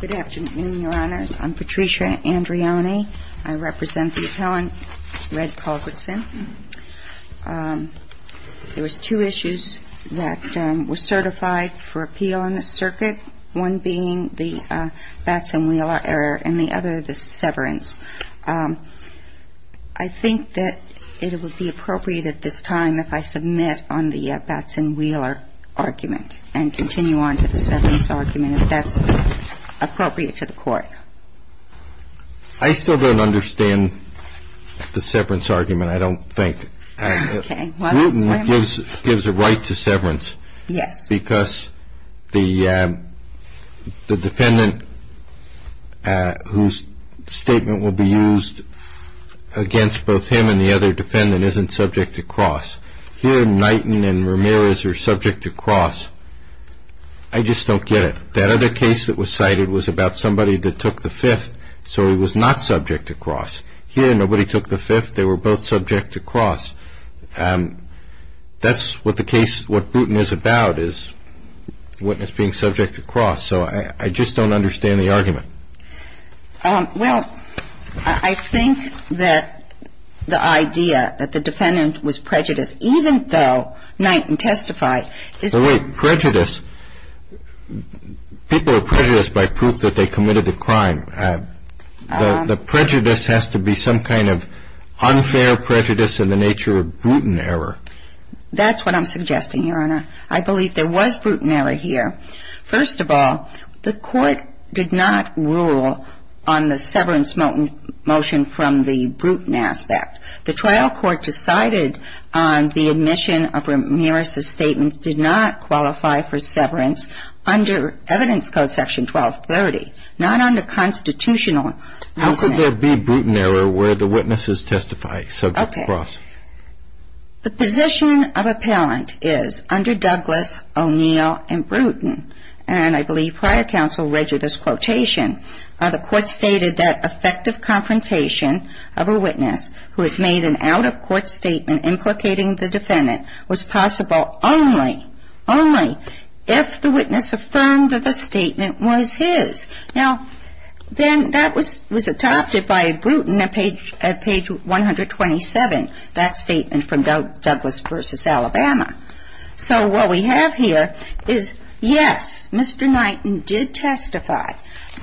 Good afternoon, Your Honors. I'm Patricia Andriani. I represent the appellant Red Culbertson. There were two issues that were certified for appeal in this circuit, one being the Batson-Wheeler error and the other the severance. I think that it would be appropriate at this time if I submit on the Batson-Wheeler argument and continue on to the severance argument. I mean, if that's appropriate to the court. I still don't understand the severance argument, I don't think. Okay. Well, that's very much true. Newton gives a right to severance. Yes. Because the defendant whose statement will be used against both him and the other defendant isn't subject to cross. Here, Knighton and Ramirez are subject to cross. I just don't get it. That other case that was cited was about somebody that took the fifth, so he was not subject to cross. Here, nobody took the fifth. They were both subject to cross. That's what the case, what Bruton is about, is witness being subject to cross. So I just don't understand the argument. Well, I think that the idea that the defendant was prejudiced, even though Knighton testified. But wait, prejudice, people are prejudiced by proof that they committed the crime. The prejudice has to be some kind of unfair prejudice in the nature of Bruton error. That's what I'm suggesting, Your Honor. I believe there was Bruton error here. First of all, the court did not rule on the severance motion from the Bruton aspect. The trial court decided on the admission of Ramirez's statement did not qualify for severance under evidence code section 1230, not under constitutional. How could there be Bruton error where the witness is testifying subject to cross? The position of appellant is under Douglas, O'Neill, and Bruton, and I believe prior counsel read you this quotation. The court stated that effective confrontation of a witness who has made an out-of-court statement implicating the defendant was possible only, only if the witness affirmed that the statement was his. Now, then that was adopted by Bruton at page 127, that statement from Douglas v. Alabama. So what we have here is, yes, Mr. Knighton did testify,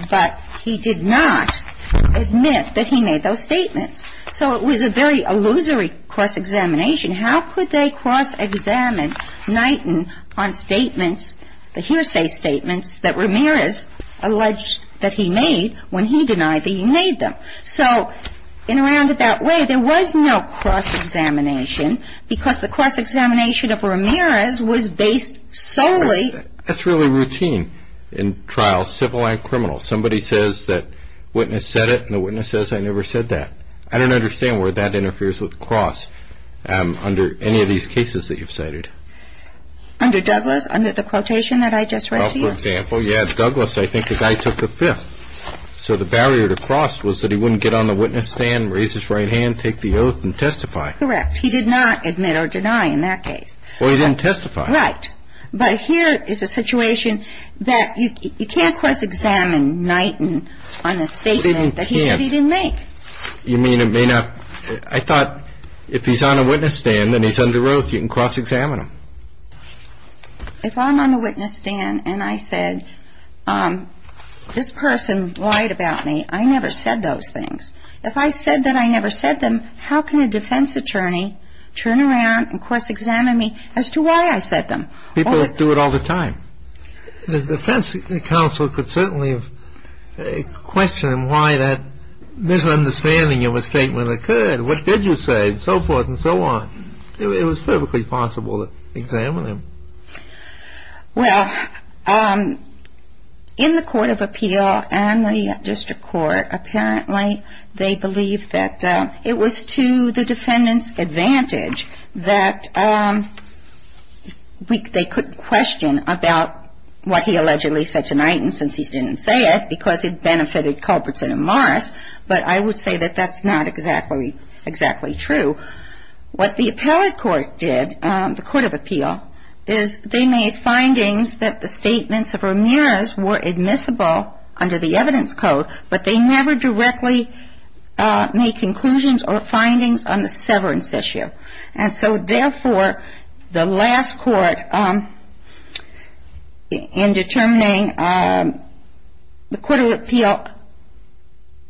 but he did not admit that he made those statements. So it was a very illusory cross-examination. How could they cross-examine Knighton on statements, the hearsay statements that Ramirez alleged that he made when he denied that he made them? So in a roundabout way, there was no cross-examination because the cross-examination of Ramirez was based solely. That's really routine in trials, civil and criminal. Somebody says that witness said it, and the witness says I never said that. I don't understand where that interferes with cross. Under any of these cases that you've cited. Under Douglas? Under the quotation that I just read here? Well, for example, you have Douglas. I think the guy took the fifth. So the barrier to cross was that he wouldn't get on the witness stand, raise his right hand, take the oath and testify. Correct. He did not admit or deny in that case. Well, he didn't testify. Right. But here is a situation that you can't cross-examine Knighton on a statement that he said he didn't make. You mean it may not? I thought if he's on a witness stand and he's under oath, you can cross-examine him. If I'm on the witness stand and I said this person lied about me, I never said those things. If I said that I never said them, how can a defense attorney turn around and cross-examine me as to why I said them? People do it all the time. The defense counsel could certainly question him why that misunderstanding of a statement occurred. What did you say? And so forth and so on. It was perfectly possible to examine him. Well, in the court of appeal and the district court, apparently they believe that it was to the defendant's advantage that they could question about what he allegedly said to Knighton since he didn't say it because it benefited Culbertson and Morris. But I would say that that's not exactly true. What the appellate court did, the court of appeal, is they made findings that the statements of Ramirez were admissible under the evidence code, but they never directly made conclusions or findings on the severance issue. And so, therefore, the last court in determining the court of appeal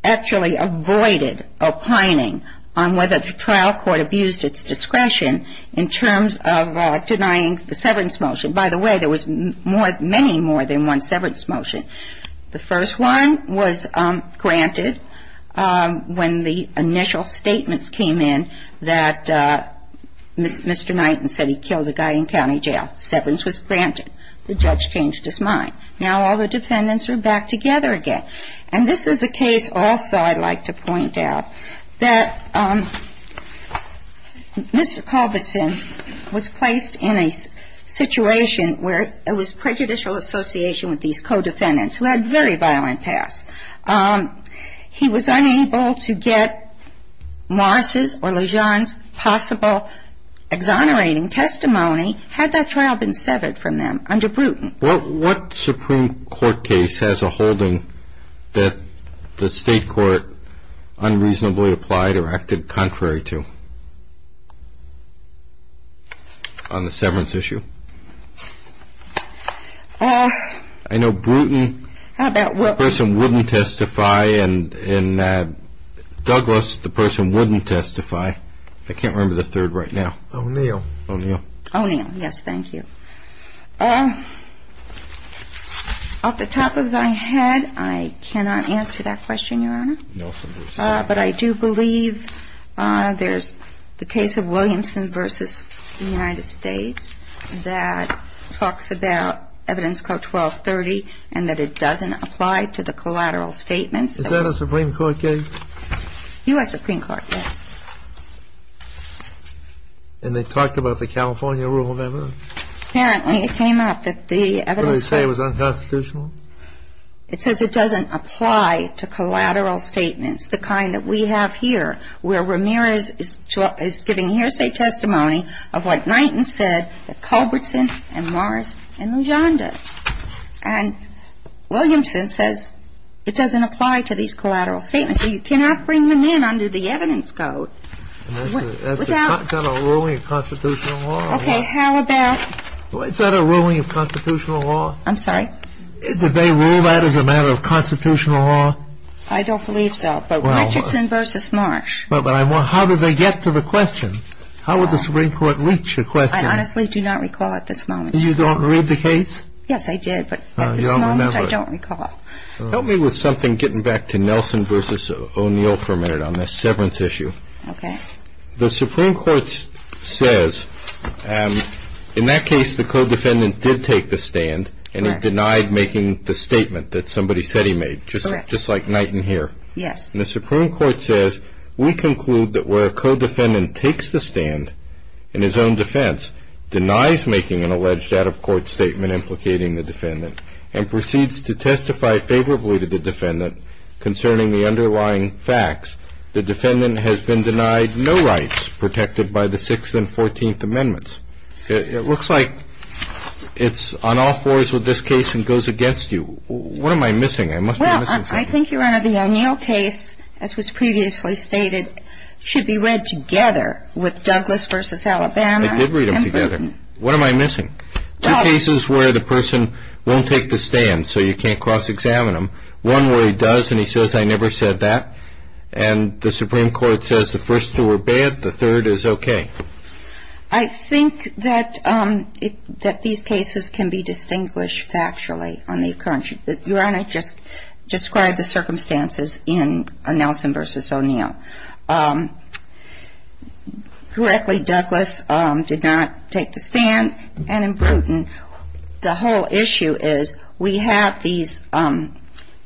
actually avoided opining on whether the trial court abused its discretion in terms of denying the severance motion. By the way, there was many more than one severance motion. The first one was granted when the initial statements came in that Mr. Knighton said he killed a guy in county jail. Severance was granted. The judge changed his mind. Now all the defendants are back together again. And this is a case also I'd like to point out that Mr. Culbertson was placed in a situation where it was prejudicial association with these co-defendants who had very violent pasts. He was unable to get Morris' or Lejeune's possible exonerating testimony had that trial been severed from them under Bruton. What Supreme Court case has a holding that the state court unreasonably applied or acted contrary to on the severance issue? I know Bruton person wouldn't testify and Douglas, the person wouldn't testify. I can't remember the third right now. O'Neill. O'Neill. O'Neill. Yes, thank you. Off the top of my head, I cannot answer that question, Your Honor. But I do believe there's the case of Williamson v. United States. That talks about evidence code 1230 and that it doesn't apply to the collateral statements. Is that a Supreme Court case? U.S. Supreme Court, yes. And they talked about the California rule of evidence? Apparently it came up that the evidence. What did they say was unconstitutional? It says it doesn't apply to collateral statements, the kind that we have here where Ramirez is giving hearsay testimony of what Knighton said that Culbertson and Morris and Lujan did. And Williamson says it doesn't apply to these collateral statements. So you cannot bring them in under the evidence code without. Is that a ruling of constitutional law? Okay, how about. Is that a ruling of constitutional law? I'm sorry. Did they rule that as a matter of constitutional law? I don't believe so. But Mitcherson v. Marsh. But how did they get to the question? How would the Supreme Court reach the question? I honestly do not recall at this moment. You don't read the case? Yes, I did, but at this moment I don't recall. Help me with something getting back to Nelson v. O'Neill for a minute on this severance issue. Okay. The Supreme Court says in that case the co-defendant did take the stand and he denied making the statement that somebody said he made, just like Knighton here. Yes. And the Supreme Court says we conclude that where a co-defendant takes the stand in his own defense, denies making an alleged out-of-court statement implicating the defendant, and proceeds to testify favorably to the defendant concerning the underlying facts, the defendant has been denied no rights protected by the Sixth and Fourteenth Amendments. It looks like it's on all fours with this case and goes against you. What am I missing? Well, I think, Your Honor, the O'Neill case, as was previously stated, should be read together with Douglas v. Alabama. I did read them together. What am I missing? Two cases where the person won't take the stand so you can't cross-examine them, one where he does and he says, I never said that, and the Supreme Court says the first two are bad, the third is okay. I think that these cases can be distinguished factually on the occurrence. Your Honor just described the circumstances in Nelson v. O'Neill. Correctly, Douglas did not take the stand, and in Bruton, the whole issue is we have these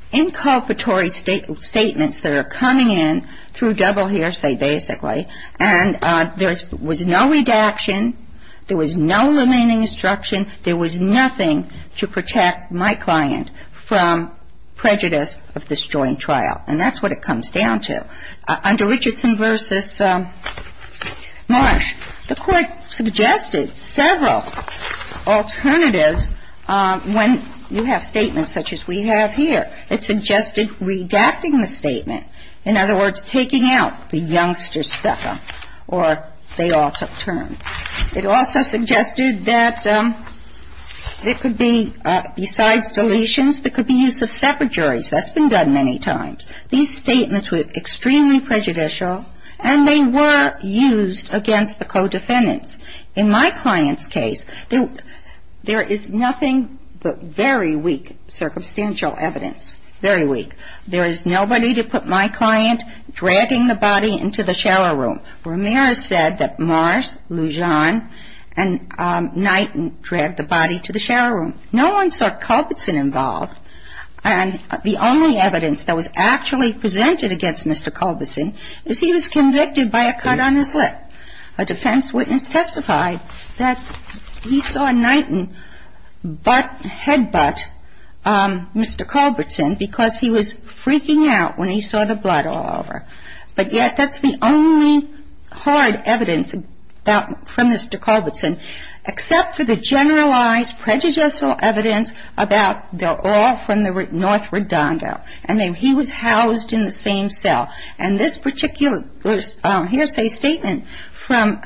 inculpatory statements that are coming in through double hearsay, basically, and there was no redaction, there was no limiting instruction, there was nothing to protect my client from prejudice of this joint trial. And that's what it comes down to. Under Richardson v. Marsh, the Court suggested several alternatives when you have statements such as we have here. It suggested redacting the statement. In other words, taking out the youngster's feca, or they all took turns. It also suggested that it could be, besides deletions, there could be use of separate juries. That's been done many times. These statements were extremely prejudicial, and they were used against the co-defendants. In my client's case, there is nothing but very weak circumstantial evidence, very weak. There is nobody to put my client dragging the body into the shower room. Ramirez said that Marsh, Lujan, and Knighton dragged the body to the shower room. No one saw Culbertson involved, and the only evidence that was actually presented against Mr. Culbertson is he was convicted by a cut on his lip. A defense witness testified that he saw Knighton headbutt Mr. Culbertson because he was freaking out when he saw the blood all over. But yet that's the only hard evidence from Mr. Culbertson, except for the generalized prejudicial evidence about they're all from the North Redondo, and he was housed in the same cell. And this particular hearsay statement from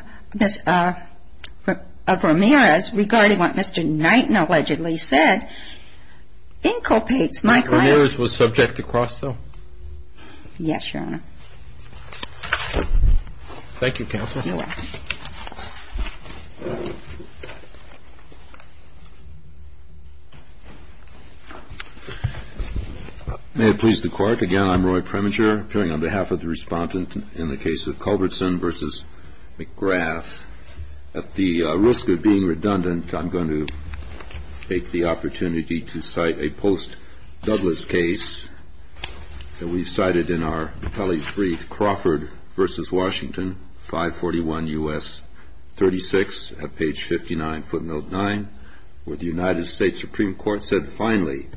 Ramirez regarding what Mr. Knighton allegedly said inculpates my client. Ramirez was subject to Crosto? Yes, Your Honor. Thank you, Counsel. May it please the Court. Again, I'm Roy Preminger, appearing on behalf of the respondent in the case of Culbertson v. McGrath. At the risk of being redundant, I'm going to take the opportunity to cite a post-Douglas case that we've cited in our appellee's brief, Crawford v. Washington, 541 U.S. 36, at page 59, footnote 9, where the United States Supreme Court said finally,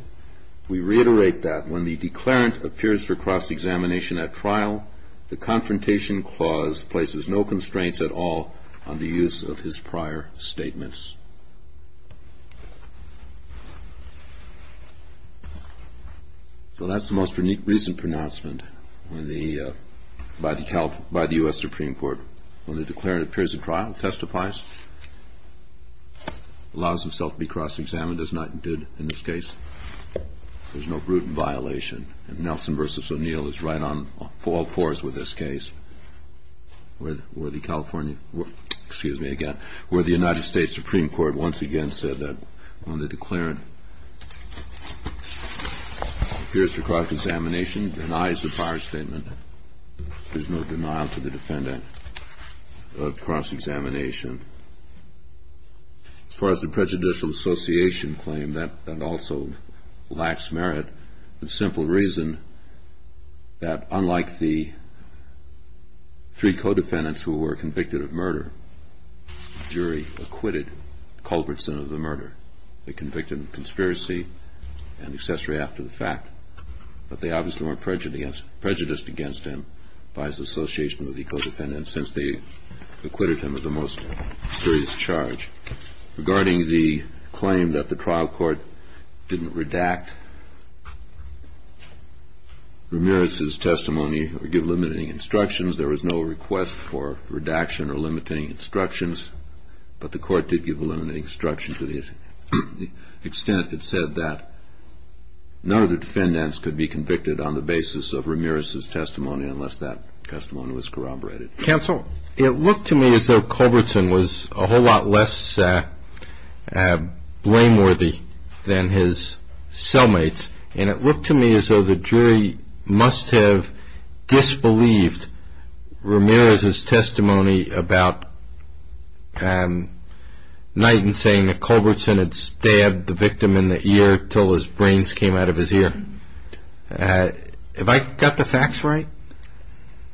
we reiterate that when the declarant appears for cross-examination at trial, the Confrontation Clause places no constraints at all on the use of his prior statements. So that's the most recent pronouncement by the U.S. Supreme Court. When the declarant appears at trial, testifies, allows himself to be cross-examined, as Knighton did in this case, there's no brutal violation. And Nelson v. O'Neill is right on all fours with this case, where the California – excuse me, again – where the United States Supreme Court once again said that when the declarant appears for cross-examination, denies the prior statement, there's no denial to the defendant of cross-examination. As far as the prejudicial association claim, that also lacks merit. The simple reason that unlike the three co-defendants who were convicted of murder, the jury acquitted Culbertson of the murder. They convicted him of conspiracy and accessory after the fact. But they obviously weren't prejudiced against him by his association with the co-defendants since they acquitted him of the most serious charge. Regarding the claim that the trial court didn't redact Ramirez's testimony or give limiting instructions, there was no request for redaction or limiting instructions, but the court did give a limiting instruction to the extent it said that none of the defendants could be convicted on the basis of Ramirez's testimony unless that testimony was corroborated. Counsel, it looked to me as though Culbertson was a whole lot less blameworthy than his cellmates, and it looked to me as though the jury must have disbelieved Ramirez's testimony about Knighton saying that Culbertson had stabbed the victim in the ear until his brains came out of his ear. Have I got the facts right?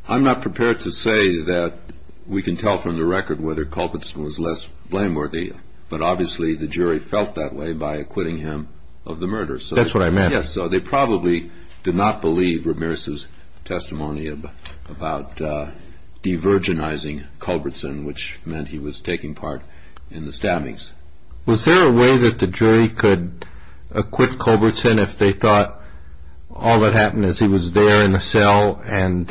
I'm not prepared to say that we can tell from the record whether Culbertson was less blameworthy, but obviously the jury felt that way by acquitting him of the murder. That's what I meant. Yes, so they probably did not believe Ramirez's testimony about divergenizing Culbertson, which meant he was taking part in the stabbings. Was there a way that the jury could acquit Culbertson if they thought all that happened is he was there in the cell and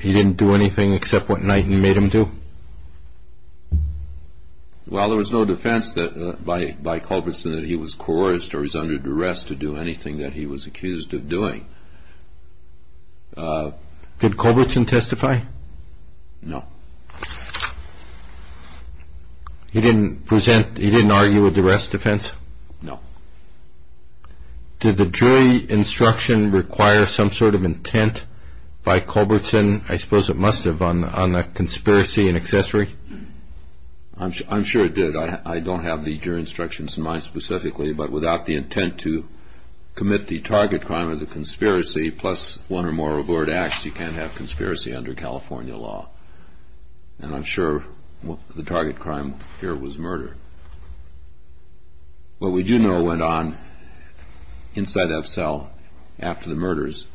he didn't do anything except what Knighton made him do? Well, there was no defense by Culbertson that he was coerced or he was under duress to do anything that he was accused of doing. Did Culbertson testify? No. He didn't present, he didn't argue a duress defense? No. Did the jury instruction require some sort of intent by Culbertson? I suppose it must have on the conspiracy and accessory. I'm sure it did. I don't have the jury instructions in mind specifically, but without the intent to commit the target crime of the conspiracy plus one or more reward acts, you can't have conspiracy under California law. And I'm sure the target crime here was murder. What we do know went on inside that cell after the murders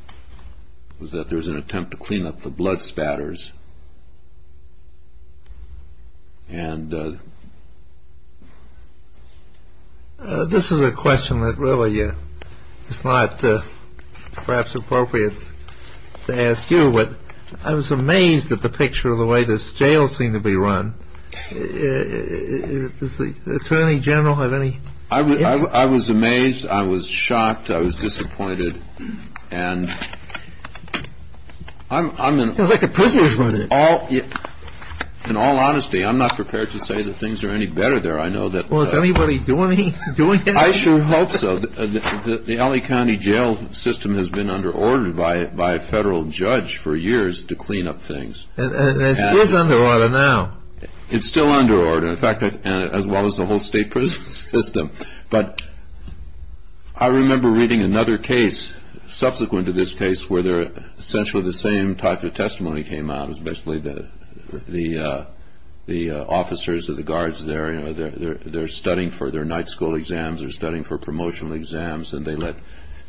was that there was an attempt to clean up the blood spatters. This is a question that really is not perhaps appropriate to ask you, but I was amazed at the picture of the way the jails seem to be run. Does the Attorney General have any...? I was amazed. I was shocked. I was disappointed. It's like a prisoner's room. In all honesty, I'm not prepared to say that things are any better there. Well, is anybody doing anything? I sure hope so. The L.A. County jail system has been under order by a federal judge for years to clean up things. It is under order now. It's still under order. As well as the whole state prison system. But I remember reading another case subsequent to this case where essentially the same type of testimony came out. It was basically the officers or the guards there, they're studying for their night school exams, they're studying for promotional exams, and they let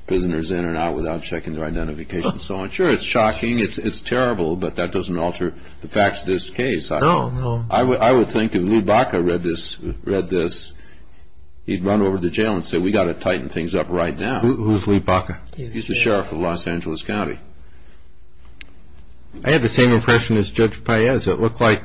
prisoners in and out without checking their identification and so on. Sure, it's shocking, it's terrible, but that doesn't alter the facts of this case. No, no. I would think if Lee Baca read this, he'd run over to jail and say, we've got to tighten things up right now. Who's Lee Baca? He's the sheriff of Los Angeles County. I had the same impression as Judge Paez. It looked like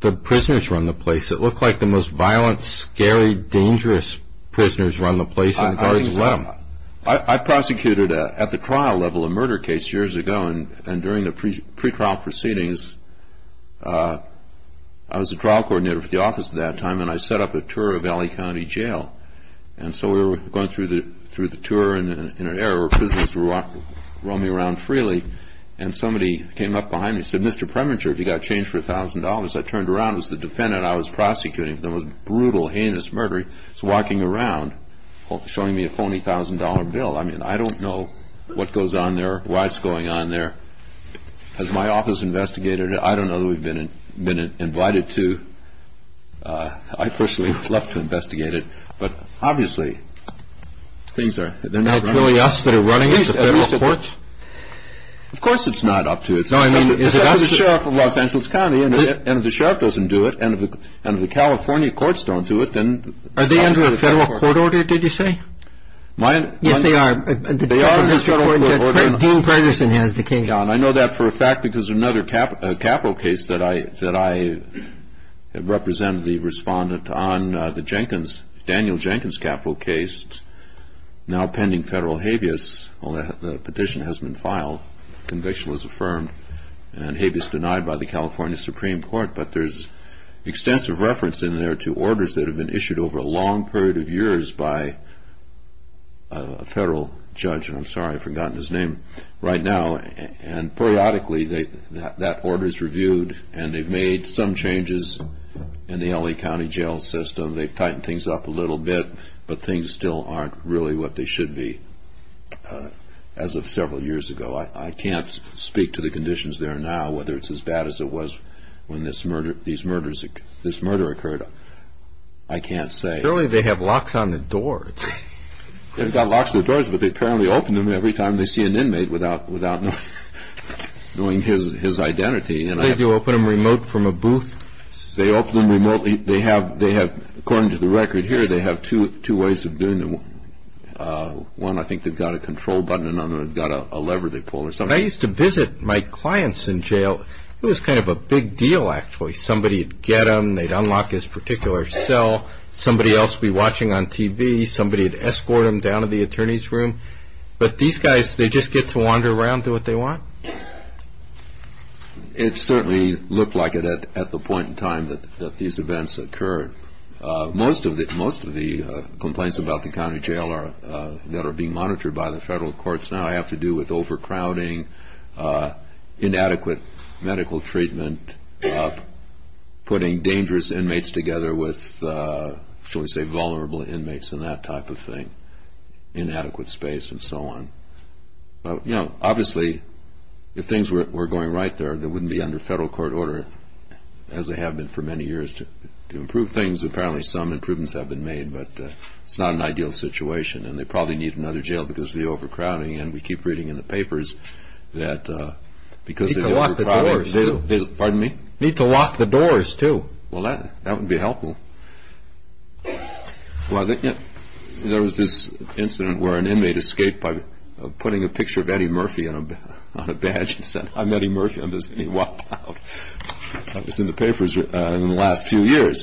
the prisoners were on the place. It looked like the most violent, scary, dangerous prisoners were on the place and the guards left. I prosecuted at the trial level a murder case years ago, and during the pre-trial proceedings, I was the trial coordinator for the office at that time, and I set up a tour of L.A. County Jail. And so we were going through the tour in an area where prisoners were roaming around freely, and somebody came up behind me and said, Mr. Premature, have you got a change for $1,000? I turned around, it was the defendant I was prosecuting. It was a brutal, heinous murder. He was walking around showing me a phony $1,000 bill. I mean, I don't know what goes on there, why it's going on there. Has my office investigated it? I don't know that we've been invited to. I personally would love to investigate it. But obviously, things are not running. Are it really us that are running it, the federal courts? Of course it's not up to us. It's up to the sheriff of Los Angeles County, and if the sheriff doesn't do it, and if the California courts don't do it, then... Are they under a federal court order, did you say? Yes, they are. They are under a federal court order. Dean Ferguson has the case. I know that for a fact, because another capital case that I represent, the respondent on the Jenkins, Daniel Jenkins capital case, now pending federal habeas, the petition has been filed, conviction was affirmed, and habeas denied by the California Supreme Court. But there's extensive reference in there to orders that have been issued over a long period of years by a federal judge, and I'm sorry, I've forgotten his name, right now. And periodically, that order is reviewed, and they've made some changes in the L.A. County jail system. They've tightened things up a little bit, but things still aren't really what they should be as of several years ago. I can't speak to the conditions there now, whether it's as bad as it was when this murder occurred. I can't say. Apparently, they have locks on the doors. They've got locks on the doors, but they apparently open them every time they see an inmate without knowing his identity. Do they open them remote from a booth? They open them remotely. They have, according to the record here, they have two ways of doing them. One, I think they've got a control button, and another, they've got a lever they pull or something. I used to visit my clients in jail. It was kind of a big deal, actually. Somebody would get them. They'd unlock this particular cell. Somebody else would be watching on TV. Somebody would escort them down to the attorney's room. But these guys, they just get to wander around, do what they want? It certainly looked like it at the point in time that these events occurred. Most of the complaints about the county jail that are being monitored by the federal courts now have to do with overcrowding, inadequate medical treatment, putting dangerous inmates together with, shall we say, vulnerable inmates and that type of thing, inadequate space and so on. Obviously, if things were going right there, they wouldn't be under federal court order, as they have been for many years. To improve things, apparently some improvements have been made, but it's not an ideal situation, and they probably need another jail because of the overcrowding, and we keep reading in the papers that because of the overcrowding. You need to lock the doors, too. Pardon me? You need to lock the doors, too. Well, that would be helpful. Well, there was this incident where an inmate escaped by putting a picture of Eddie Murphy on a badge and said, I'm Eddie Murphy. I'm just getting locked out. That was in the papers in the last few years.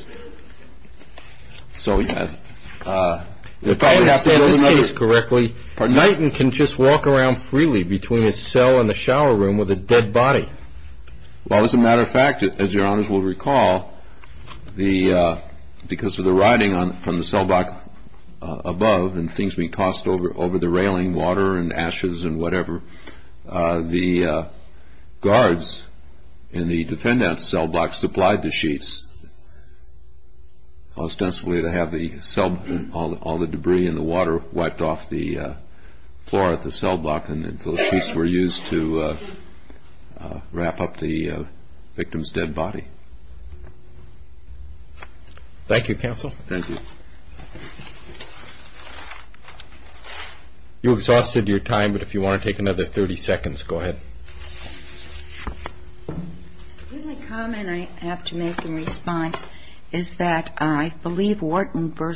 If I understand this case correctly, Knighton can just walk around freely between his cell and the shower room with a dead body. Well, as a matter of fact, as your honors will recall, because of the writing from the cell block above and things being tossed over the railing, water and ashes and whatever, the guards in the defendant's cell block supplied the sheaths ostensibly to have all the debris and the water wiped off the floor at the cell block until sheaths were used to wrap up the victim's dead body. Thank you, counsel. Thank you. You exhausted your time, but if you want to take another 30 seconds, go ahead. The only comment I have to make in response is that I believe Wharton v.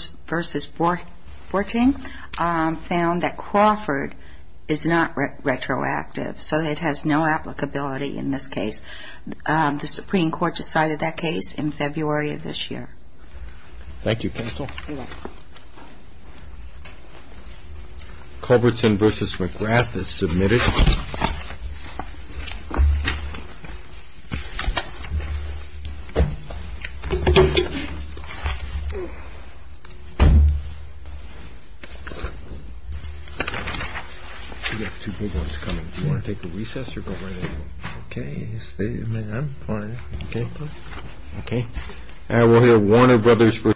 Borting found that Crawford is not retroactive, so it has no applicability in this case. The Supreme Court decided that case in February of this year. Thank you, counsel. Thank you.